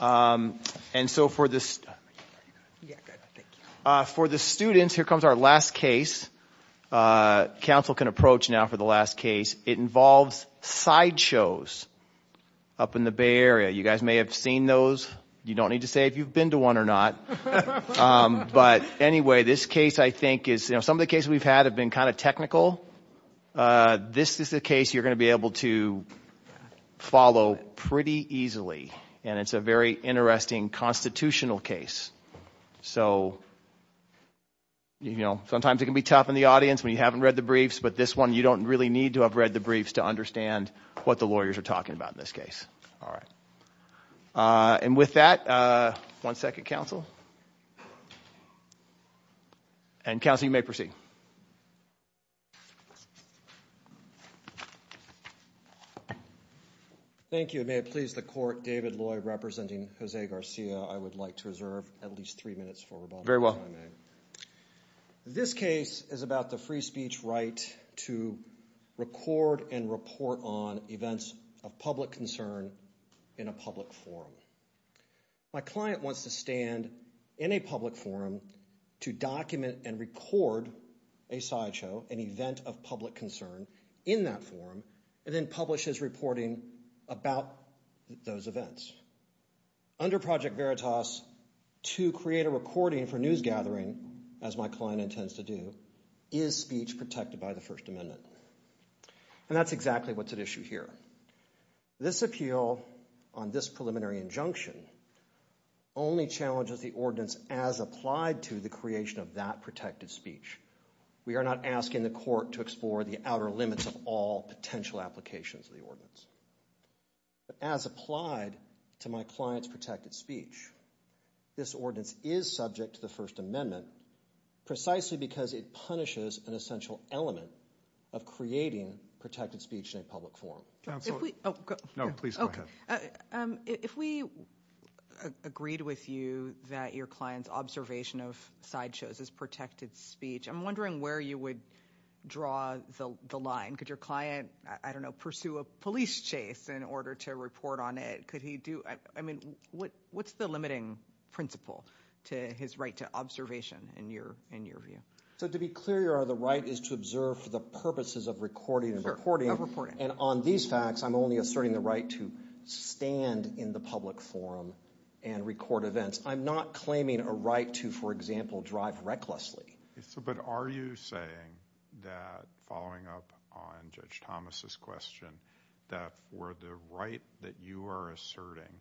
and so for this for the students here comes our last case council can approach now for the last case it involves side shows up in the Bay Area you guys may have seen those you don't need to say if you've been to one or not but anyway this case I think is you know some of the cases we've had have been kind of technical this is the case you're going to be able to follow pretty easily and it's a very interesting constitutional case so you know sometimes it can be tough in the audience we haven't read the briefs but this one you don't really need to have read the briefs to understand what the lawyers are talking about in this case all right and with that one second council and counseling may proceed thank you it may please the court David Lloyd representing Jose Garcia I would like to reserve at least three minutes for very well this case is about the free speech right to record and report on events of public concern in a public forum my client wants to stand in a public forum to document and record a sideshow an event of public concern in that forum and then publishes reporting about those events under project Veritas to create a recording for news gathering as my client intends to do is speech protected by the First Amendment and that's exactly what's at issue here this appeal on this preliminary injunction only challenges the ordinance as applied to the creation of that protected speech we are not asking the court to explore the outer limits of all potential applications of the ordinance as applied to my client's protected speech this ordinance is subject to the First Element of creating protected speech in a public forum if we agreed with you that your client's observation of sideshows is protected speech I'm wondering where you would draw the line could your client I don't know pursue a police chase in order to report on it could he do I mean what what's the limiting principle to his right to observation in your in your view so to be clear you are the right is to observe for the purposes of recording and reporting and on these facts I'm only asserting the right to stand in the public forum and record events I'm not claiming a right to for example drive recklessly so but are you saying that following up on Judge Thomas's question that for the right that you are asserting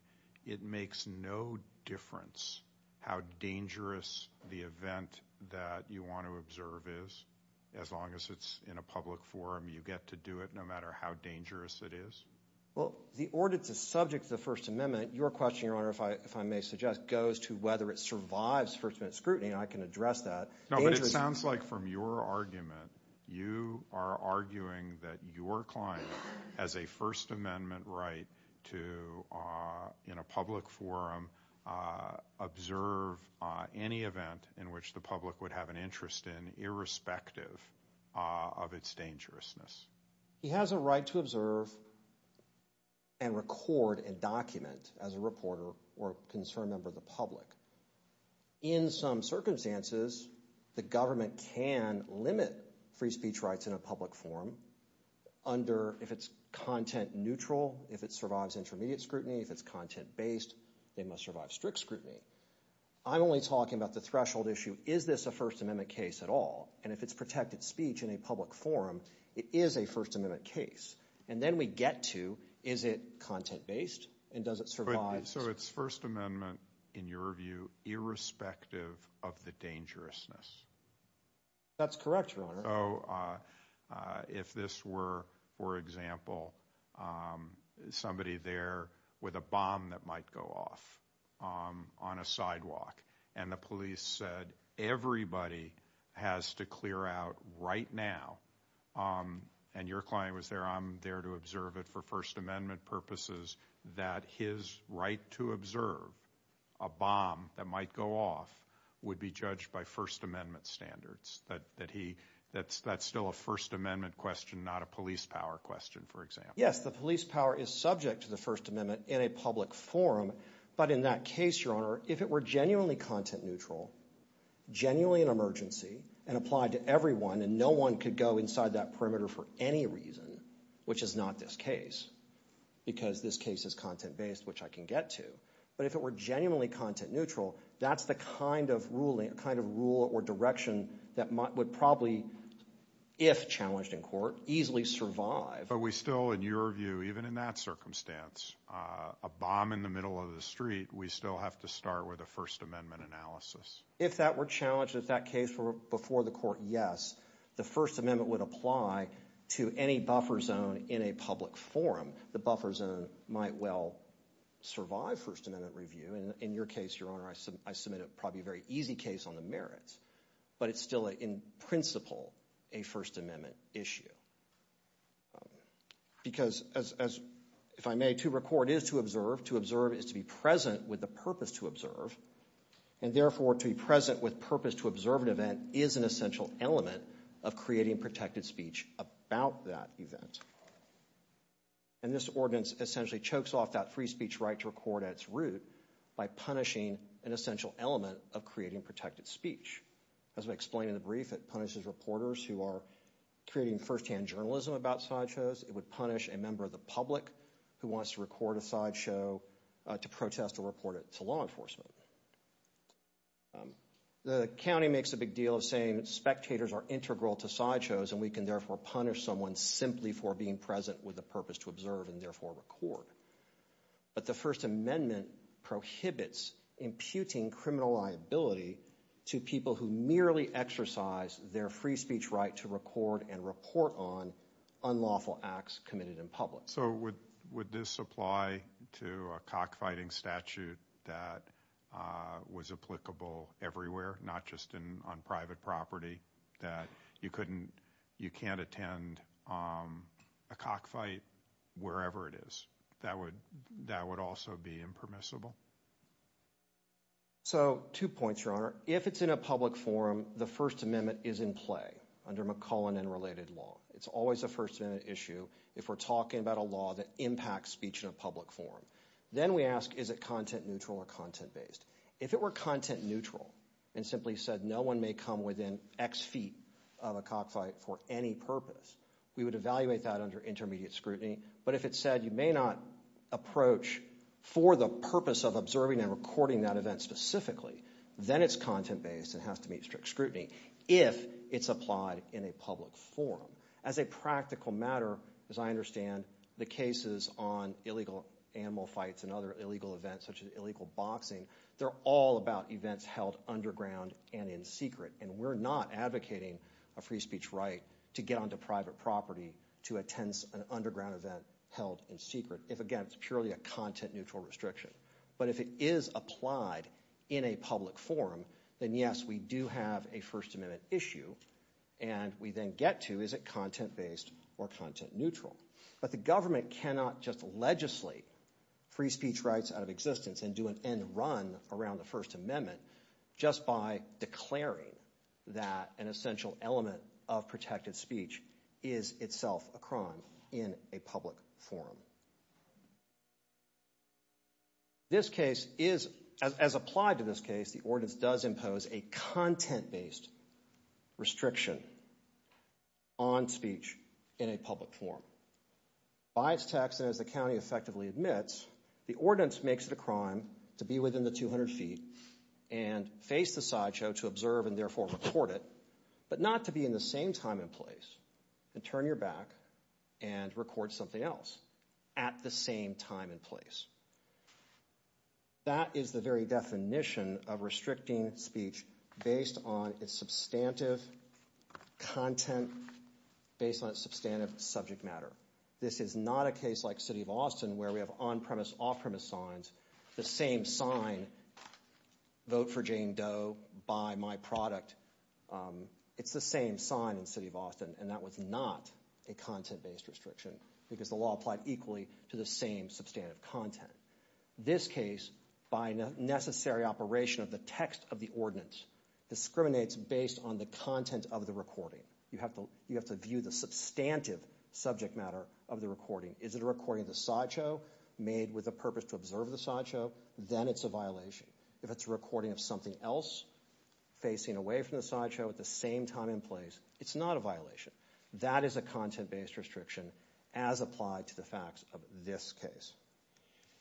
it makes no difference how dangerous the event that you want to observe is as long as it's in a public forum you get to do it no matter how dangerous it is well the ordinance is subject to the First Amendment your question your honor if I if I may suggest goes to whether it survives First Amendment scrutiny and I can address that no but it sounds like from your argument you are arguing that your client has a First Amendment right to in a public forum observe any event in which the public would have an interest in irrespective of its dangerousness he has a right to observe and record and document as a reporter or concerned member of the public in some circumstances the government can limit free speech rights in a public forum under if it's content neutral if it survives intermediate scrutiny if it's content-based they must survive strict scrutiny I'm only talking about the threshold issue is this a First Amendment case at all and if it's protected speech in a public forum it is a First Amendment case and then we get to is it content-based and does it survive so it's First Amendment in your view irrespective of the dangerousness that's correct oh if this were for example somebody there with a bomb that might go off on a sidewalk and the police said everybody has to clear out right now and your client was there I'm there to observe it for First Amendment purposes that his right to observe a bomb that might go off would be judged by First Amendment standards that that he that's that's still a First Amendment question not a police power question for example yes the police power is subject to the First Amendment in a public forum but in that case your honor if it were genuinely content-neutral genuinely an emergency and applied to everyone and no one could go inside that perimeter for any reason which is not this case because this case is content-based which I can get to but if it were genuinely content-neutral that's the kind of ruling a kind of rule or direction that might would probably if challenged in court easily survive but we still in your view even in that circumstance a bomb in the middle of the street we still have to start with a First Amendment analysis if that were challenged at that case for before the court yes the First Amendment would apply to any buffer zone in a public forum the buffer zone might well survive First Amendment review and in your case your honor I submit a probably very easy case on the merits but it's still in principle a First Amendment issue because as if I may to record is to observe to observe is to be present with the purpose to observe and therefore to be present with purpose to observe an event is an essential element of creating protected speech about that event and this ordinance essentially chokes off that free speech right to record at its root by punishing an essential element of creating protected speech as we explain in the brief it punishes reporters who are creating first-hand journalism about side shows it would punish a member of the public who wants to record a side show to protest or report it to law enforcement the county makes a big deal of saying spectators are integral to side shows and we can therefore punish someone simply for being present with a purpose to observe and therefore record but the First Amendment prohibits imputing criminal liability to people who merely exercise their free speech right to record and report on unlawful acts committed in public so with would this apply to a cockfighting statute that was applicable everywhere not just in on private property that you couldn't you can't attend a cockfight wherever it is that would that would also be impermissible so two points your honor if it's in a public forum the First Amendment is in play under McClellan and related law it's always a first-minute issue if we're talking about a law that impacts speech in a public forum then we ask is it content neutral or content based if it were content neutral and simply said no one may come within X feet of a cockfight for any purpose we would evaluate that under intermediate scrutiny but if it said you may not approach for the purpose of observing and recording that event specifically then it's content-based and has to meet strict scrutiny if it's applied in a public forum as a practical matter as I understand the cases on illegal animal fights and other illegal events such as illegal boxing they're all about events held underground and in secret and we're not advocating a free speech right to get onto private property to attend an underground event held in secret if again it's purely a content neutral restriction but if it is applied in a public forum then yes we do have a First Amendment issue and we then get to is it content based or content neutral but the government cannot just legislate free rights out of existence and do an end run around the First Amendment just by declaring that an essential element of protected speech is itself a crime in a public forum this case is as applied to this case the ordinance does impose a content-based restriction on speech in a public forum by its tax as the county effectively admits the ordinance makes it a crime to be within the 200 feet and face the sideshow to observe and therefore report it but not to be in the same time and place and turn your back and record something else at the same time and place that is the very definition of restricting speech based on its substantive content based on substantive subject matter this is not a case like city of Austin where we have on-premise off-premise signs the same sign vote for Jane Doe buy my product it's the same sign in city of Austin and that was not a content-based restriction because the law applied equally to the same substantive content this case by necessary operation of the text of the ordinance discriminates based on the content of the recording you have to you have to view the substantive subject matter of the recording is it a recording the sideshow made with a purpose to observe the sideshow then it's a violation if it's recording of something else facing away from the sideshow at the same time and place it's not a violation that is a content-based restriction as applied to the facts of this case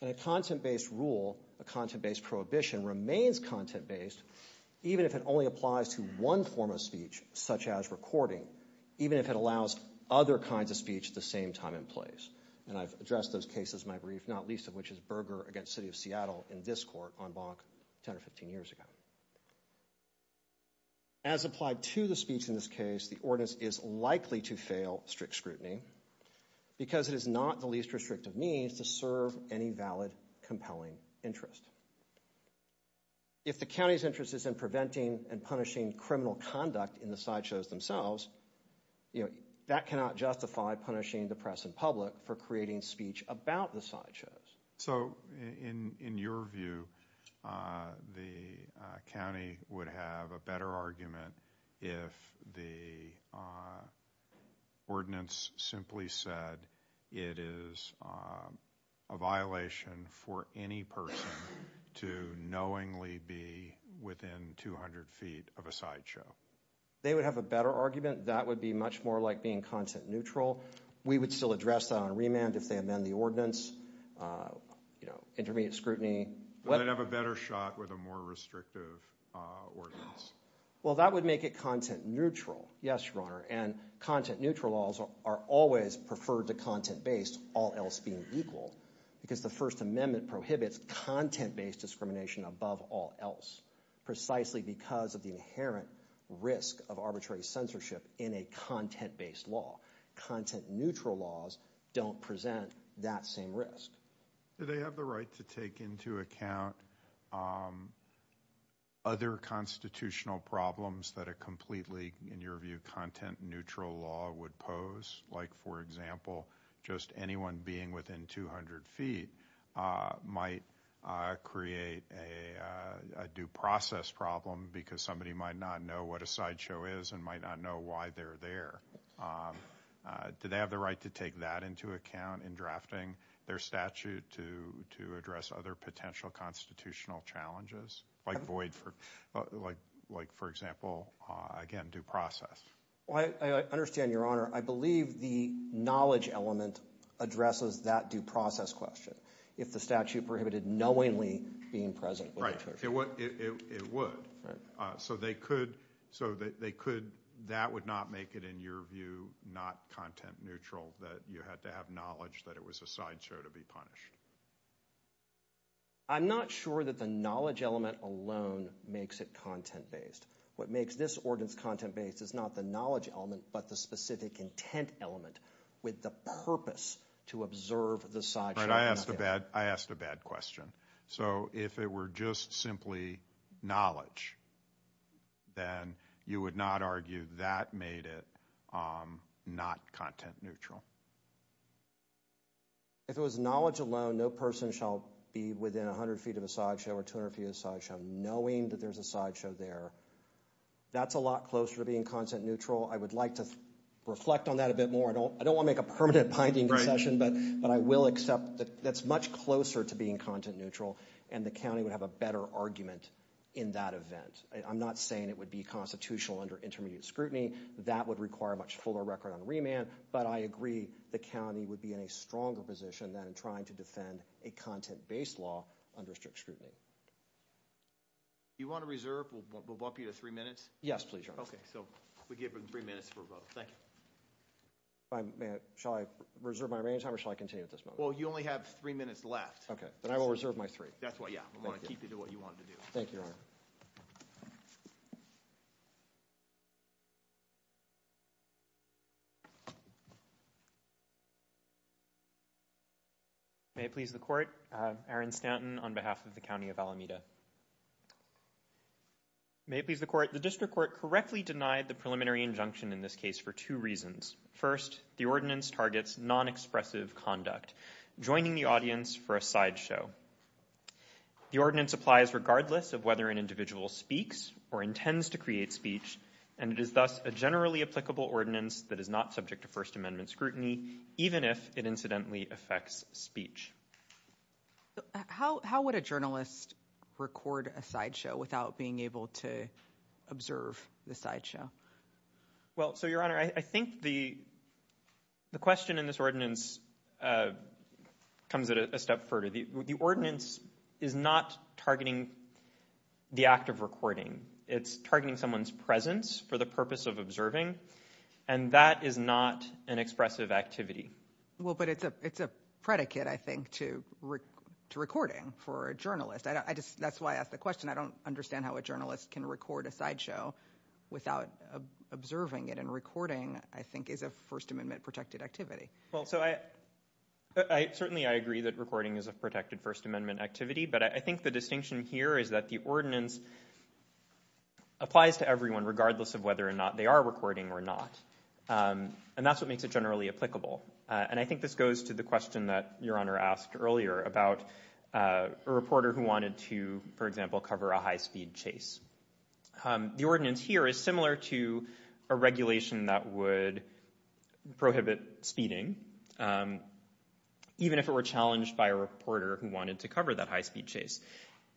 and a content-based rule a content-based prohibition remains content-based even if it only applies to one form of speech such as recording even if it allows other kinds of speech the same time in place and I've addressed those cases my brief not least of which is Berger against City of Seattle in this court on bonk 10 or 15 years ago as applied to the speech in this case the ordinance is likely to fail strict scrutiny because it is not the least restrictive means to serve any valid compelling interest if the county's interest is in preventing and punishing criminal conduct in the sideshows themselves you know that cannot justify punishing the press and public for creating speech about the sideshows so in in your view the county would have a better argument if the ordinance simply said it is a violation for any person to knowingly be within 200 feet of a sideshow they would have a better argument that would be much more like being content-neutral we would still address that on remand if they amend the ordinance you know intermediate scrutiny but I'd have a better shot with a more restrictive well that would make it content-neutral yes your honor and content-neutral also are always preferred to content-based all else being equal because the First Amendment prohibits content-based discrimination above all else precisely because of the inherent risk of censorship in a content-based law content-neutral laws don't present that same risk do they have the right to take into account other constitutional problems that are completely in your view content-neutral law would pose like for example just anyone being within 200 feet might create a due process problem because somebody might not know what a sideshow is and might not know why they're there do they have the right to take that into account in drafting their statute to to address other potential constitutional challenges like void for like like for example again due process I understand your honor I believe the knowledge element addresses that due process question if the statute prohibited knowingly being present right what it would so they could so that they could that would not make it in your view not content-neutral that you had to have knowledge that it was a sideshow to be punished I'm not sure that the knowledge element alone makes it content-based what makes this ordinance content-based is not the knowledge element but the specific intent element with the purpose to observe the side I asked a bad I asked a bad question so if it were just simply knowledge then you would not argue that made it not content-neutral if it was knowledge alone no person shall be within a hundred feet of a sideshow or two or a few sideshow knowing that there's a sideshow there that's a lot closer to being content-neutral I would like to reflect on that a bit more I don't I don't wanna make a permanent binding session but but I will accept that that's much closer to being content-neutral and the county would have a better argument in that event I'm not saying it would be constitutional under intermediate scrutiny that would require much fuller record on remand but I agree the county would be in a stronger position than trying to defend a content-based law under strict scrutiny you want to reserve we'll walk you to three minutes yes please okay so we give them three minutes for both thank you I'm man shall I reserve my remaining time or shall I continue at this moment well you only have three minutes left okay but I will reserve my three that's why yeah I want to keep you to what you want to do thank you may it please the court Aaron Stanton on behalf of the county of Alameda may it the court the district court correctly denied the preliminary injunction in this case for two reasons first the ordinance targets non-expressive conduct joining the audience for a sideshow the ordinance applies regardless of whether an individual speaks or intends to create speech and it is thus a generally applicable ordinance that is not subject to First Amendment scrutiny even if it incidentally affects speech how would a journalist record a sideshow without being able to observe the sideshow well so your honor I think the the question in this ordinance comes at a step further the ordinance is not targeting the act of recording it's targeting someone's presence for the purpose of observing and that is not an expressive activity well but it's a it's a predicate I think to recording for a journalist I just that's why I asked the I don't understand how a journalist can record a sideshow without observing it and recording I think is a First Amendment protected activity well so I certainly I agree that recording is a protected First Amendment activity but I think the distinction here is that the ordinance applies to everyone regardless of whether or not they are recording or not and that's what makes it generally applicable and I think this goes to the question that your honor asked earlier about a reporter who wanted to for example cover a high-speed chase the ordinance here is similar to a regulation that would prohibit speeding even if it were challenged by a reporter who wanted to cover that high-speed chase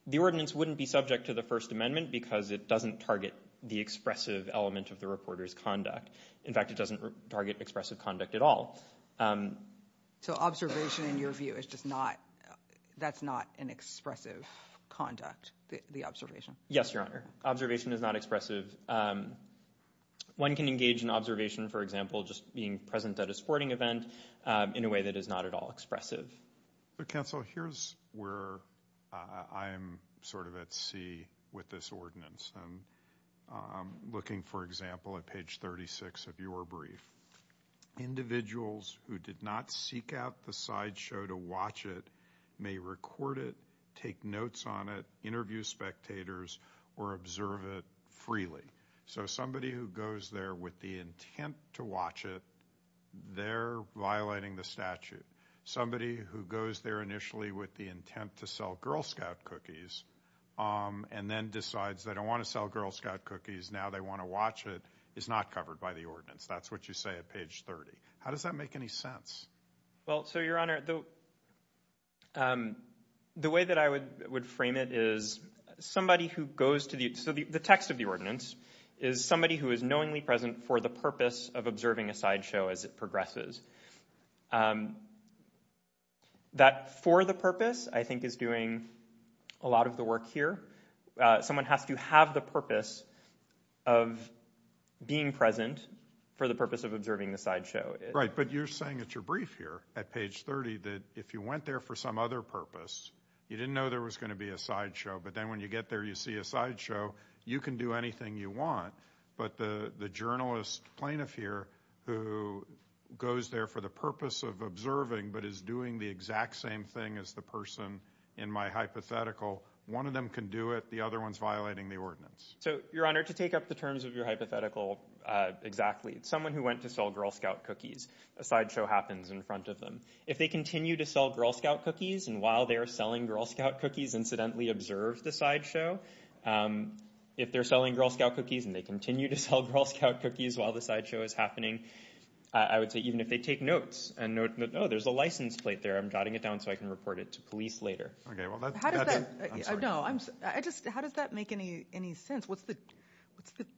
the ordinance wouldn't be subject to the First Amendment because it doesn't target the expressive element of the reporters conduct in fact it doesn't target expressive conduct at all so observation in your view is just not that's not an expressive conduct the observation yes your honor observation is not expressive one can engage in observation for example just being present at a sporting event in a way that is not at all expressive the council here's where I am sort of at sea with this ordinance and looking for example at page 36 of your brief individuals who did not seek out the sideshow to watch it may record it take notes on it interview spectators or observe it freely so somebody who goes there with the intent to watch it they're violating the statute somebody who goes there initially with the intent to sell Girl Scout cookies and then decides they don't want to sell Girl Scout cookies now they want to watch it is not covered by the ordinance that's what you say at page 30 how does that make any sense well so your honor though the way that I would would frame it is somebody who goes to the so the text of the ordinance is somebody who is knowingly present for the purpose of observing a sideshow as it progresses that for the purpose I think is doing a lot of the here someone has to have the purpose of being present for the purpose of observing the sideshow right but you're saying it's your brief here at page 30 that if you went there for some other purpose you didn't know there was going to be a sideshow but then when you get there you see a sideshow you can do anything you want but the the journalist plaintiff here who goes there for the purpose of observing but is doing the exact same thing as the person in my hypothetical one of them can do it the other ones violating the ordinance so your honor to take up the terms of your hypothetical exactly someone who went to sell Girl Scout cookies a sideshow happens in front of them if they continue to sell Girl Scout cookies and while they are selling Girl Scout cookies incidentally observed the sideshow if they're selling Girl Scout cookies and they continue to sell Girl Scout cookies while the sideshow is happening I would say even if they take notes and no there's a license plate there I'm jotting it down so I can report it to police later I just how does that make any any sense what's the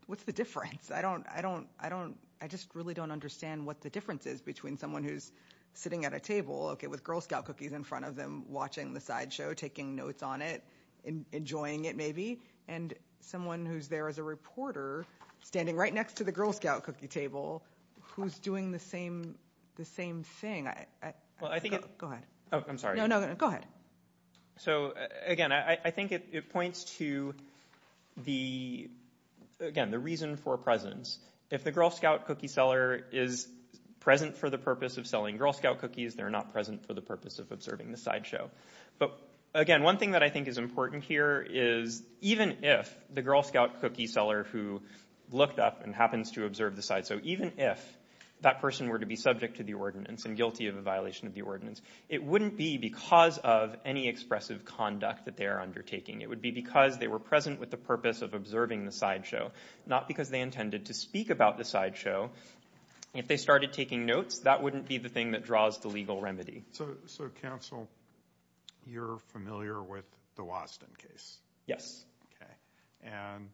what's the difference I don't I don't I don't I just really don't understand what the difference is between someone who's sitting at a table okay with Girl Scout cookies in front of them watching the sideshow taking notes on it and enjoying it maybe and someone who's there as a reporter standing right next to the Girl Scout cookie table who's the same the same thing I well I think I'm sorry no no go ahead so again I think it points to the again the reason for presence if the Girl Scout cookie seller is present for the purpose of selling Girl Scout cookies they're not present for the purpose of observing the sideshow but again one thing that I think is important here is even if the Girl Scout cookie seller who looked up and happens to observe the side so even if that person were to be subject to the ordinance and guilty of a violation of the ordinance it wouldn't be because of any expressive conduct that they are undertaking it would be because they were present with the purpose of observing the sideshow not because they intended to speak about the sideshow if they started taking notes that wouldn't be the thing that draws the legal remedy so so counsel you're familiar with the Wasden case yes okay and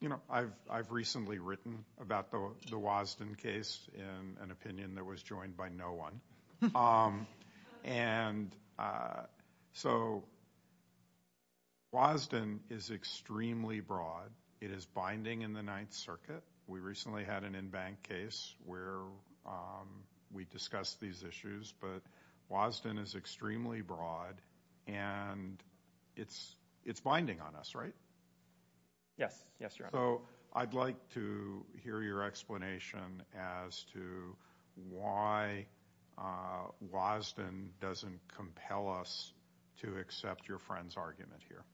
you know I've I've recently written about the Wasden case in an opinion that was joined by no one and so Wasden is extremely broad it is binding in the Ninth Circuit we recently had an in-bank case where we discussed these issues but Wasden is extremely broad and it's it's binding on us right yes yes so I'd like to hear your explanation as to why Wasden doesn't compel us to accept your friend's argument here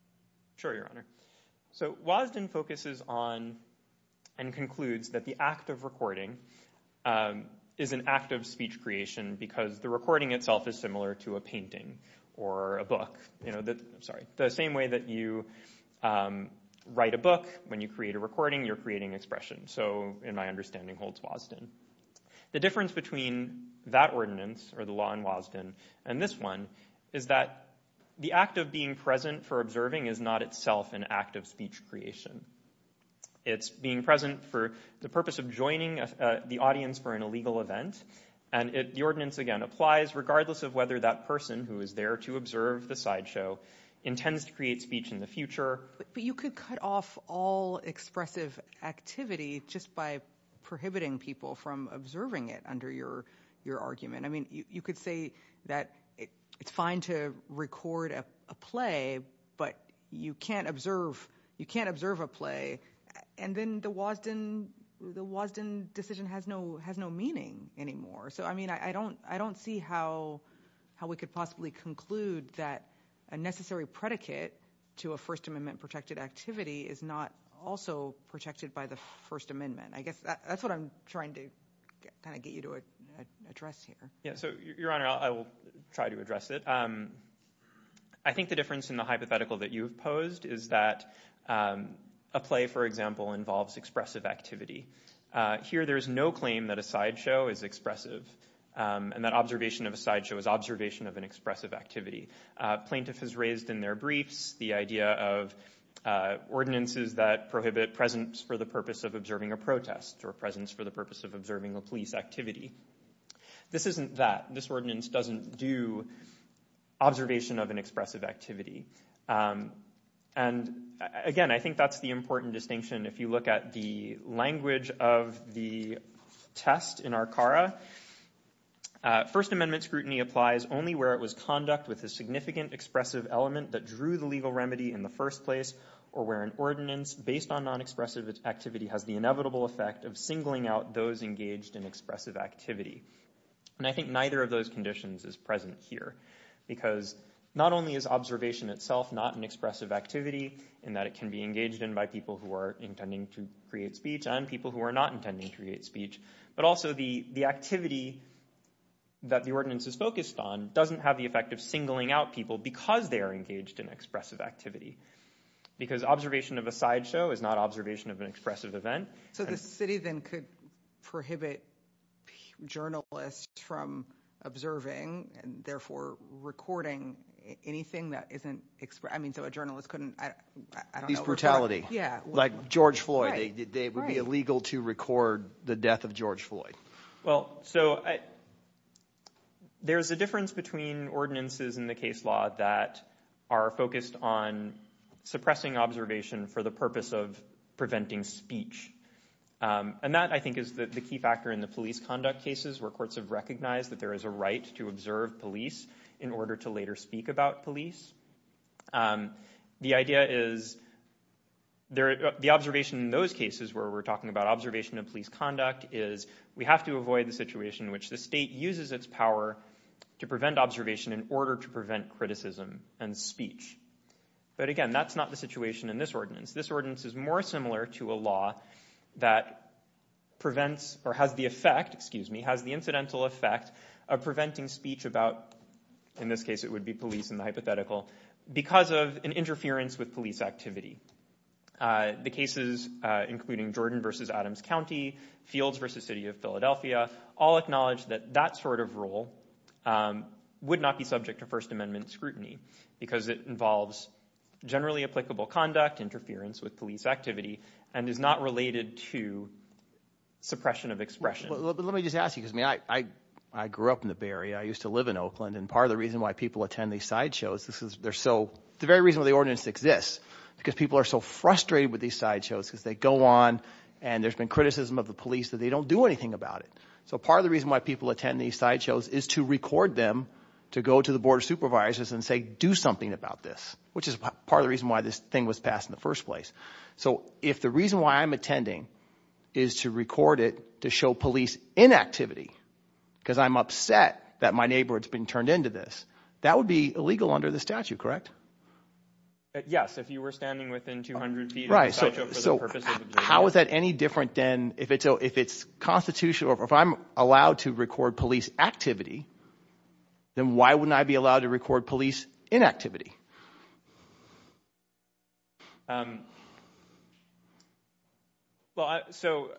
sure your honor so Wasden focuses on and concludes that the act of recording is an act of speech creation because the recording itself is similar to a painting or a book you know that I'm sorry the same way that you write a book when you create a recording you're creating expression so in my understanding holds Wasden the difference between that ordinance or the law in Wasden and this one is that the act of being present for observing is not itself an act of speech creation it's being present for the purpose of joining the audience for an illegal event and it the ordinance again applies regardless of whether that person who is there to observe the sideshow intends to create speech in the future but you could cut off all expressive activity just by prohibiting people from observing it under your your argument I mean you could say that it's fine to record a play but you can't observe you can't observe a play and then the Wasden the Wasden decision has no has no meaning anymore so I mean I don't I don't see how how we could possibly conclude that a necessary predicate to a First Amendment protected activity is not also protected by the First Amendment I guess that's what I'm trying to kind of get you to a dress here yeah so your honor I will try to address it I think the difference in the you've posed is that a play for example involves expressive activity here there is no claim that a sideshow is expressive and that observation of a sideshow is observation of an expressive activity plaintiff has raised in their briefs the idea of ordinances that prohibit presence for the purpose of observing a protest or presence for the purpose of observing a police activity this isn't that this ordinance doesn't do observation of an expressive activity and again I think that's the important distinction if you look at the language of the test in our Cara First Amendment scrutiny applies only where it was conduct with a significant expressive element that drew the legal remedy in the first place or where an ordinance based on non-expressive activity has the inevitable effect of singling out those engaged in expressive activity and I think neither of those conditions is present here because not only is observation itself not an expressive activity and that it can be engaged in by people who are intending to create speech and people who are not intending to create speech but also the the activity that the ordinance is focused on doesn't have the effect of singling out people because they are engaged in expressive activity because observation of a sideshow is not observation of an expressive event so the city then could prohibit journalists from observing and therefore recording anything that isn't express I mean so a journalist couldn't I don't know brutality yeah like George Floyd they would be illegal to record the death of George Floyd well so I there's a difference between ordinances in the case law that are focused on suppressing observation for the purpose of preventing speech and that I think is that the key factor in the police conduct cases where courts have recognized that there is a right to observe police in order to later speak about police the idea is there the observation in those cases where we're talking about observation of police conduct is we have to avoid the situation in which the state uses its power to prevent observation in order to prevent criticism and speech but again that's not the situation in this ordinance this ordinance is more similar to a law that prevents or has the effect excuse me has the incidental effect of preventing speech about in this case it would be police in the hypothetical because of an interference with police activity the cases including Jordan versus Adams County fields versus City of Philadelphia all acknowledge that that sort of rule would not be subject to First Amendment scrutiny because it involves generally applicable conduct interference with police activity and is not related to suppression of expression let me just ask you because me I I grew up in the Bay Area I used to live in Oakland and part of the reason why people attend these sideshows this is they're so the very reason the ordinance exists because people are so frustrated with these sideshows because they go on and there's been criticism of the police that they don't do anything about it so part of the reason why people attend these sideshows is to record them to go to the board of supervisors and say do something about this which is part of the reason why this thing was passed in the first place so if the reason why I'm attending is to record it to show police inactivity because I'm upset that my neighborhood's been turned into this that would be illegal under the statute correct yes if you were standing within 200 feet right so how is that any different than if it's oh if it's constitutional if I'm allowed to record police activity then why wouldn't I be to record police inactivity well so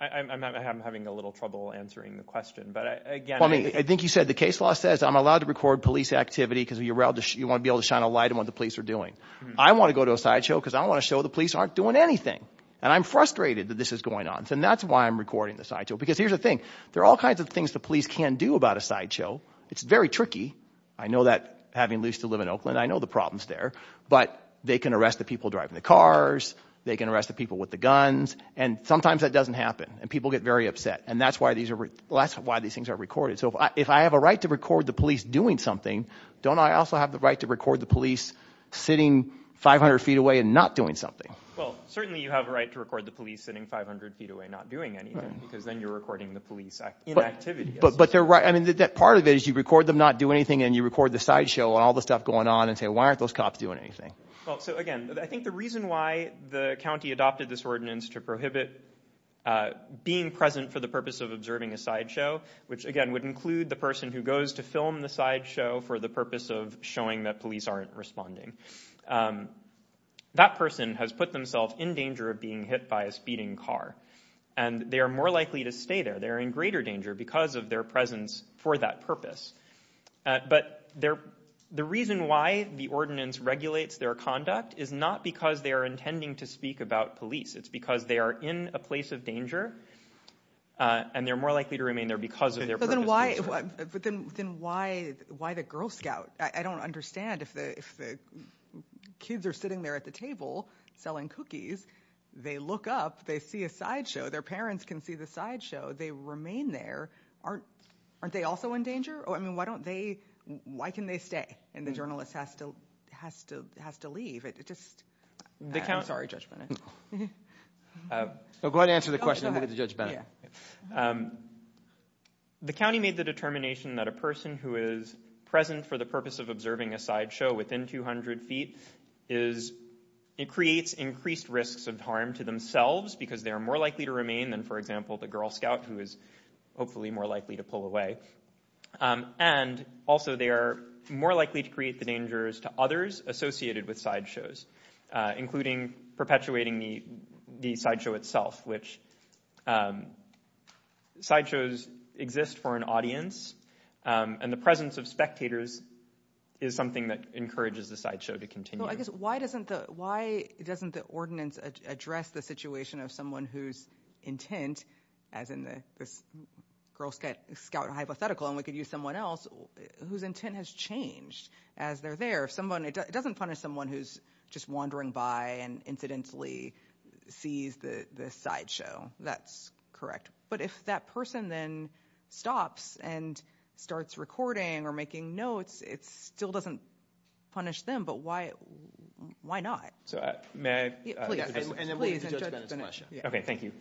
I'm having a little trouble answering the question but I think you said the case law says I'm allowed to record police activity because you're out there you want to be able to shine a light on what the police are doing I want to go to a sideshow because I want to show the police aren't doing anything and I'm frustrated that this is going on so that's why I'm recording this I do because here's the thing there are all kinds of things the police can do about a sideshow it's very tricky I know that having least to live in Oakland I know the problems there but they can arrest the people driving the cars they can arrest the people with the guns and sometimes that doesn't happen and people get very upset and that's why these are less why these things are recorded so if I have a right to record the police doing something don't I also have the right to record the police sitting 500 feet away and not doing something well certainly you have a right to record the police sitting 500 feet away not doing anything because then you're recording the police but but they're right I mean that part of it is you record them not do anything and you record the sideshow and all the stuff going on and say why aren't those cops doing anything well so again I think the reason why the county adopted this ordinance to prohibit being present for the purpose of observing a sideshow which again would include the person who goes to film the sideshow for the purpose of showing that police aren't responding that person has put themselves in danger of being hit by a speeding car and they are more likely to stay there they're in greater danger because of their presence for that purpose but they're the reason why the ordinance regulates their conduct is not because they are intending to speak about police it's because they are in a place of danger and they're more likely to remain there because of their person why but then then why why the Girl Scout I don't understand if the kids are sitting there at the table selling cookies they look up they see a show their parents can see the sideshow they remain there aren't aren't they also in danger oh I mean why don't they why can they stay and the journalist has to has to has to leave it just the counts are judgment so go ahead answer the question look at the judgment the county made the determination that a person who is present for the purpose of observing a sideshow within 200 feet is it creates increased risks of harm to themselves because they are more likely to remain than for example the Girl Scout who is hopefully more likely to pull away and also they are more likely to create the dangers to others associated with sideshows including perpetuating the sideshow itself which sideshows exist for an audience and the presence of spectators is something that encourages the sideshow to continue I guess why doesn't the why doesn't the ordinance address the situation of someone whose intent as in the Girl Scout hypothetical and we could use someone else whose intent has changed as they're there if someone it doesn't punish someone who's just wandering by and incidentally sees the sideshow that's correct but if that person then stops and starts recording or making notes it still doesn't punish them but why why may I okay thank you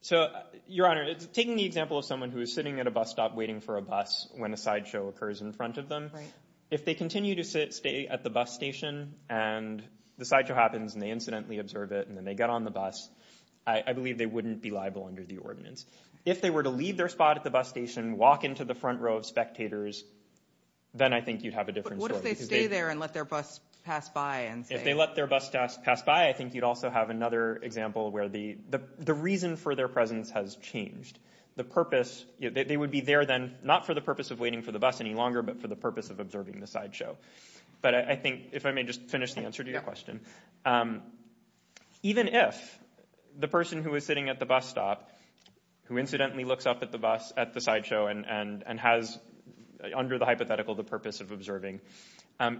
so your honor it's taking the example of someone who is sitting at a bus stop waiting for a bus when a sideshow occurs in front of them if they continue to sit stay at the bus station and the sideshow happens and they incidentally observe it and then they get on the bus I believe they wouldn't be liable under the ordinance if they were to leave their spot at the bus station walk into the front row of spectators then I think you'd have a bus pass by and if they let their bus pass by I think you'd also have another example where the the reason for their presence has changed the purpose they would be there then not for the purpose of waiting for the bus any longer but for the purpose of observing the sideshow but I think if I may just finish the answer to your question even if the person who is sitting at the bus stop who incidentally looks up at the bus at the sideshow and and and has under the hypothetical the purpose of observing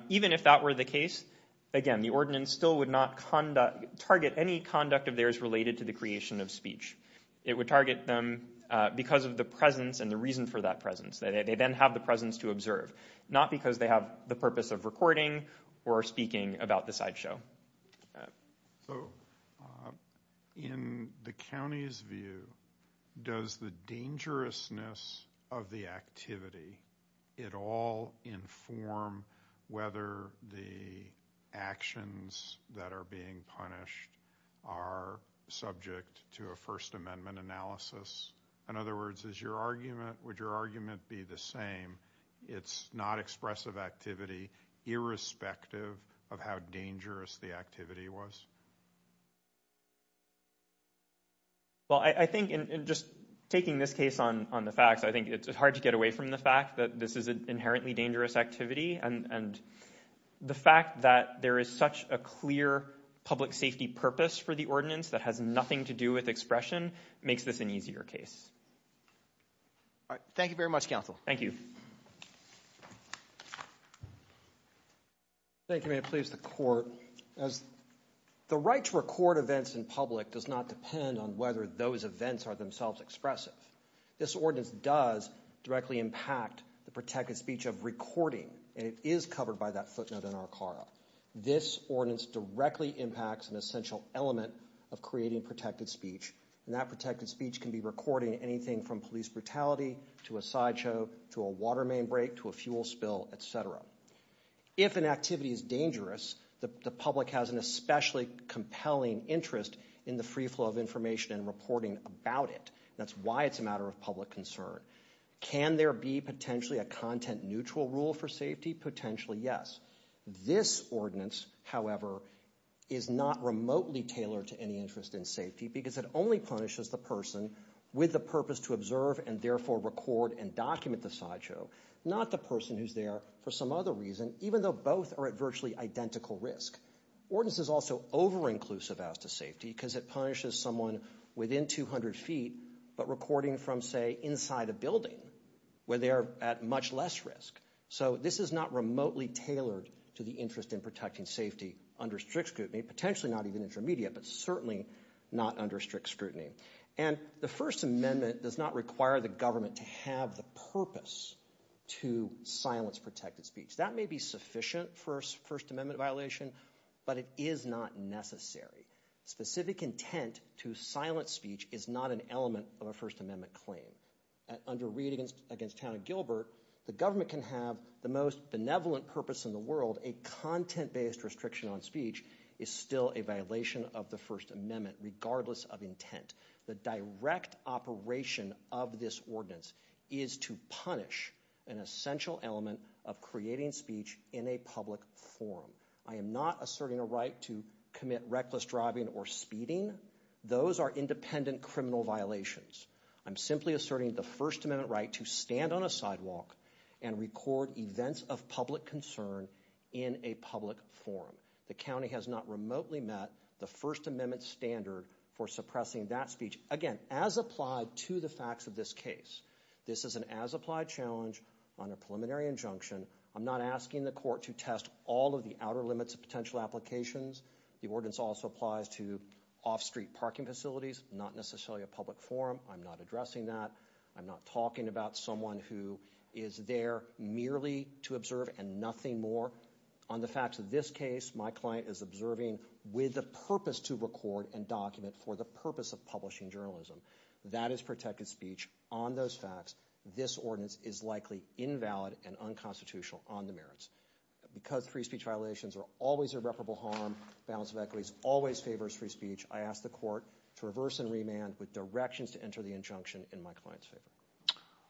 even if that were the case again the ordinance still would not conduct target any conduct of theirs related to the creation of speech it would target them because of the presence and the reason for that presence that they then have the presence to observe not because they have the purpose of recording or speaking about the sideshow so in the county's view does the dangerousness of the activity it all inform whether the actions that are being punished are subject to a First Amendment analysis in other words is your argument would your argument be the same it's not expressive activity irrespective of how dangerous the activity was you well I think in just taking this case on on the facts I think it's hard to get away from the fact that this is an inherently dangerous activity and and the fact that there is such a clear public safety purpose for the ordinance that has nothing to do with expression makes this an easier case all right thank record events in public does not depend on whether those events are themselves expressive this ordinance does directly impact the protected speech of recording and it is covered by that footnote in our car this ordinance directly impacts an essential element of creating protected speech and that protected speech can be recording anything from police brutality to a sideshow to a water main break to a fuel spill etc if an activity is dangerous the public has an especially compelling interest in the free flow of information and reporting about it that's why it's a matter of public concern can there be potentially a content neutral rule for safety potentially yes this ordinance however is not remotely tailored to any interest in safety because it only punishes the person with the purpose to observe and therefore record and document the sideshow not the person who's there for some other reason even though both are at virtually identical risk ordinance is also over inclusive as to safety because it punishes someone within 200 feet but recording from say inside a building where they are at much less risk so this is not remotely tailored to the interest in protecting safety under strict scrutiny potentially not even intermediate but certainly not under strict scrutiny and the First Amendment does not require the government to have the purpose to silence protected speech that may be sufficient first First Amendment violation but it is not necessary specific intent to silence speech is not an element of a First Amendment claim under readings against Hannah Gilbert the government can have the most benevolent purpose in the world a content-based restriction on speech is still a violation of the First Amendment regardless of intent the direct operation of this ordinance is to punish an essential element of creating speech in a public forum I am NOT asserting a right to commit reckless driving or speeding those are independent criminal violations I'm simply asserting the First Amendment right to stand on a sidewalk and record events of public concern in a public forum the county has not remotely met the First Amendment standard for suppressing that speech again as applied to the facts of this case this is an as applied challenge on a preliminary injunction I'm not asking the court to test all of the outer limits of potential applications the ordinance also applies to off-street parking facilities not necessarily a public forum I'm not addressing that I'm not talking about someone who is there merely to observe and nothing more on the facts of this case my client is observing with the purpose to record and document for the purpose of publishing journalism that is protected speech on those facts this ordinance is likely invalid and unconstitutional on the merits because free speech violations are always irreparable harm balance of equities always favors free speech I ask the court to reverse and remand with directions to enter the injunction in my client's favor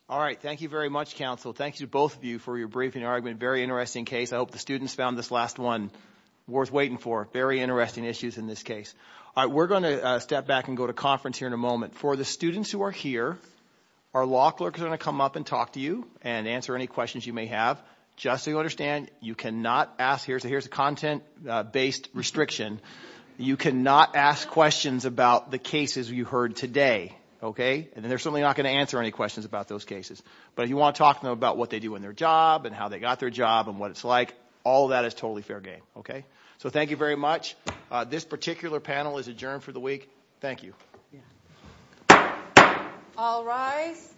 all right thank you very much counsel thank you both of you for your briefing argument very interesting case I hope the students found this last one worth waiting for very interesting issues in this case we're going to step back and go to conference here in a moment for the students who are here our law clerks are going to come up and talk to you and answer any questions you may have just so you understand you cannot ask here's a here's a content-based restriction you cannot ask questions about the cases you heard today okay and then there's something not going to answer any questions about those cases but you want to talk to them about what they do in their job and how they got their job and what it's like all that is totally fair game okay so thank you very much this particular panel is adjourned for the week thank you all rise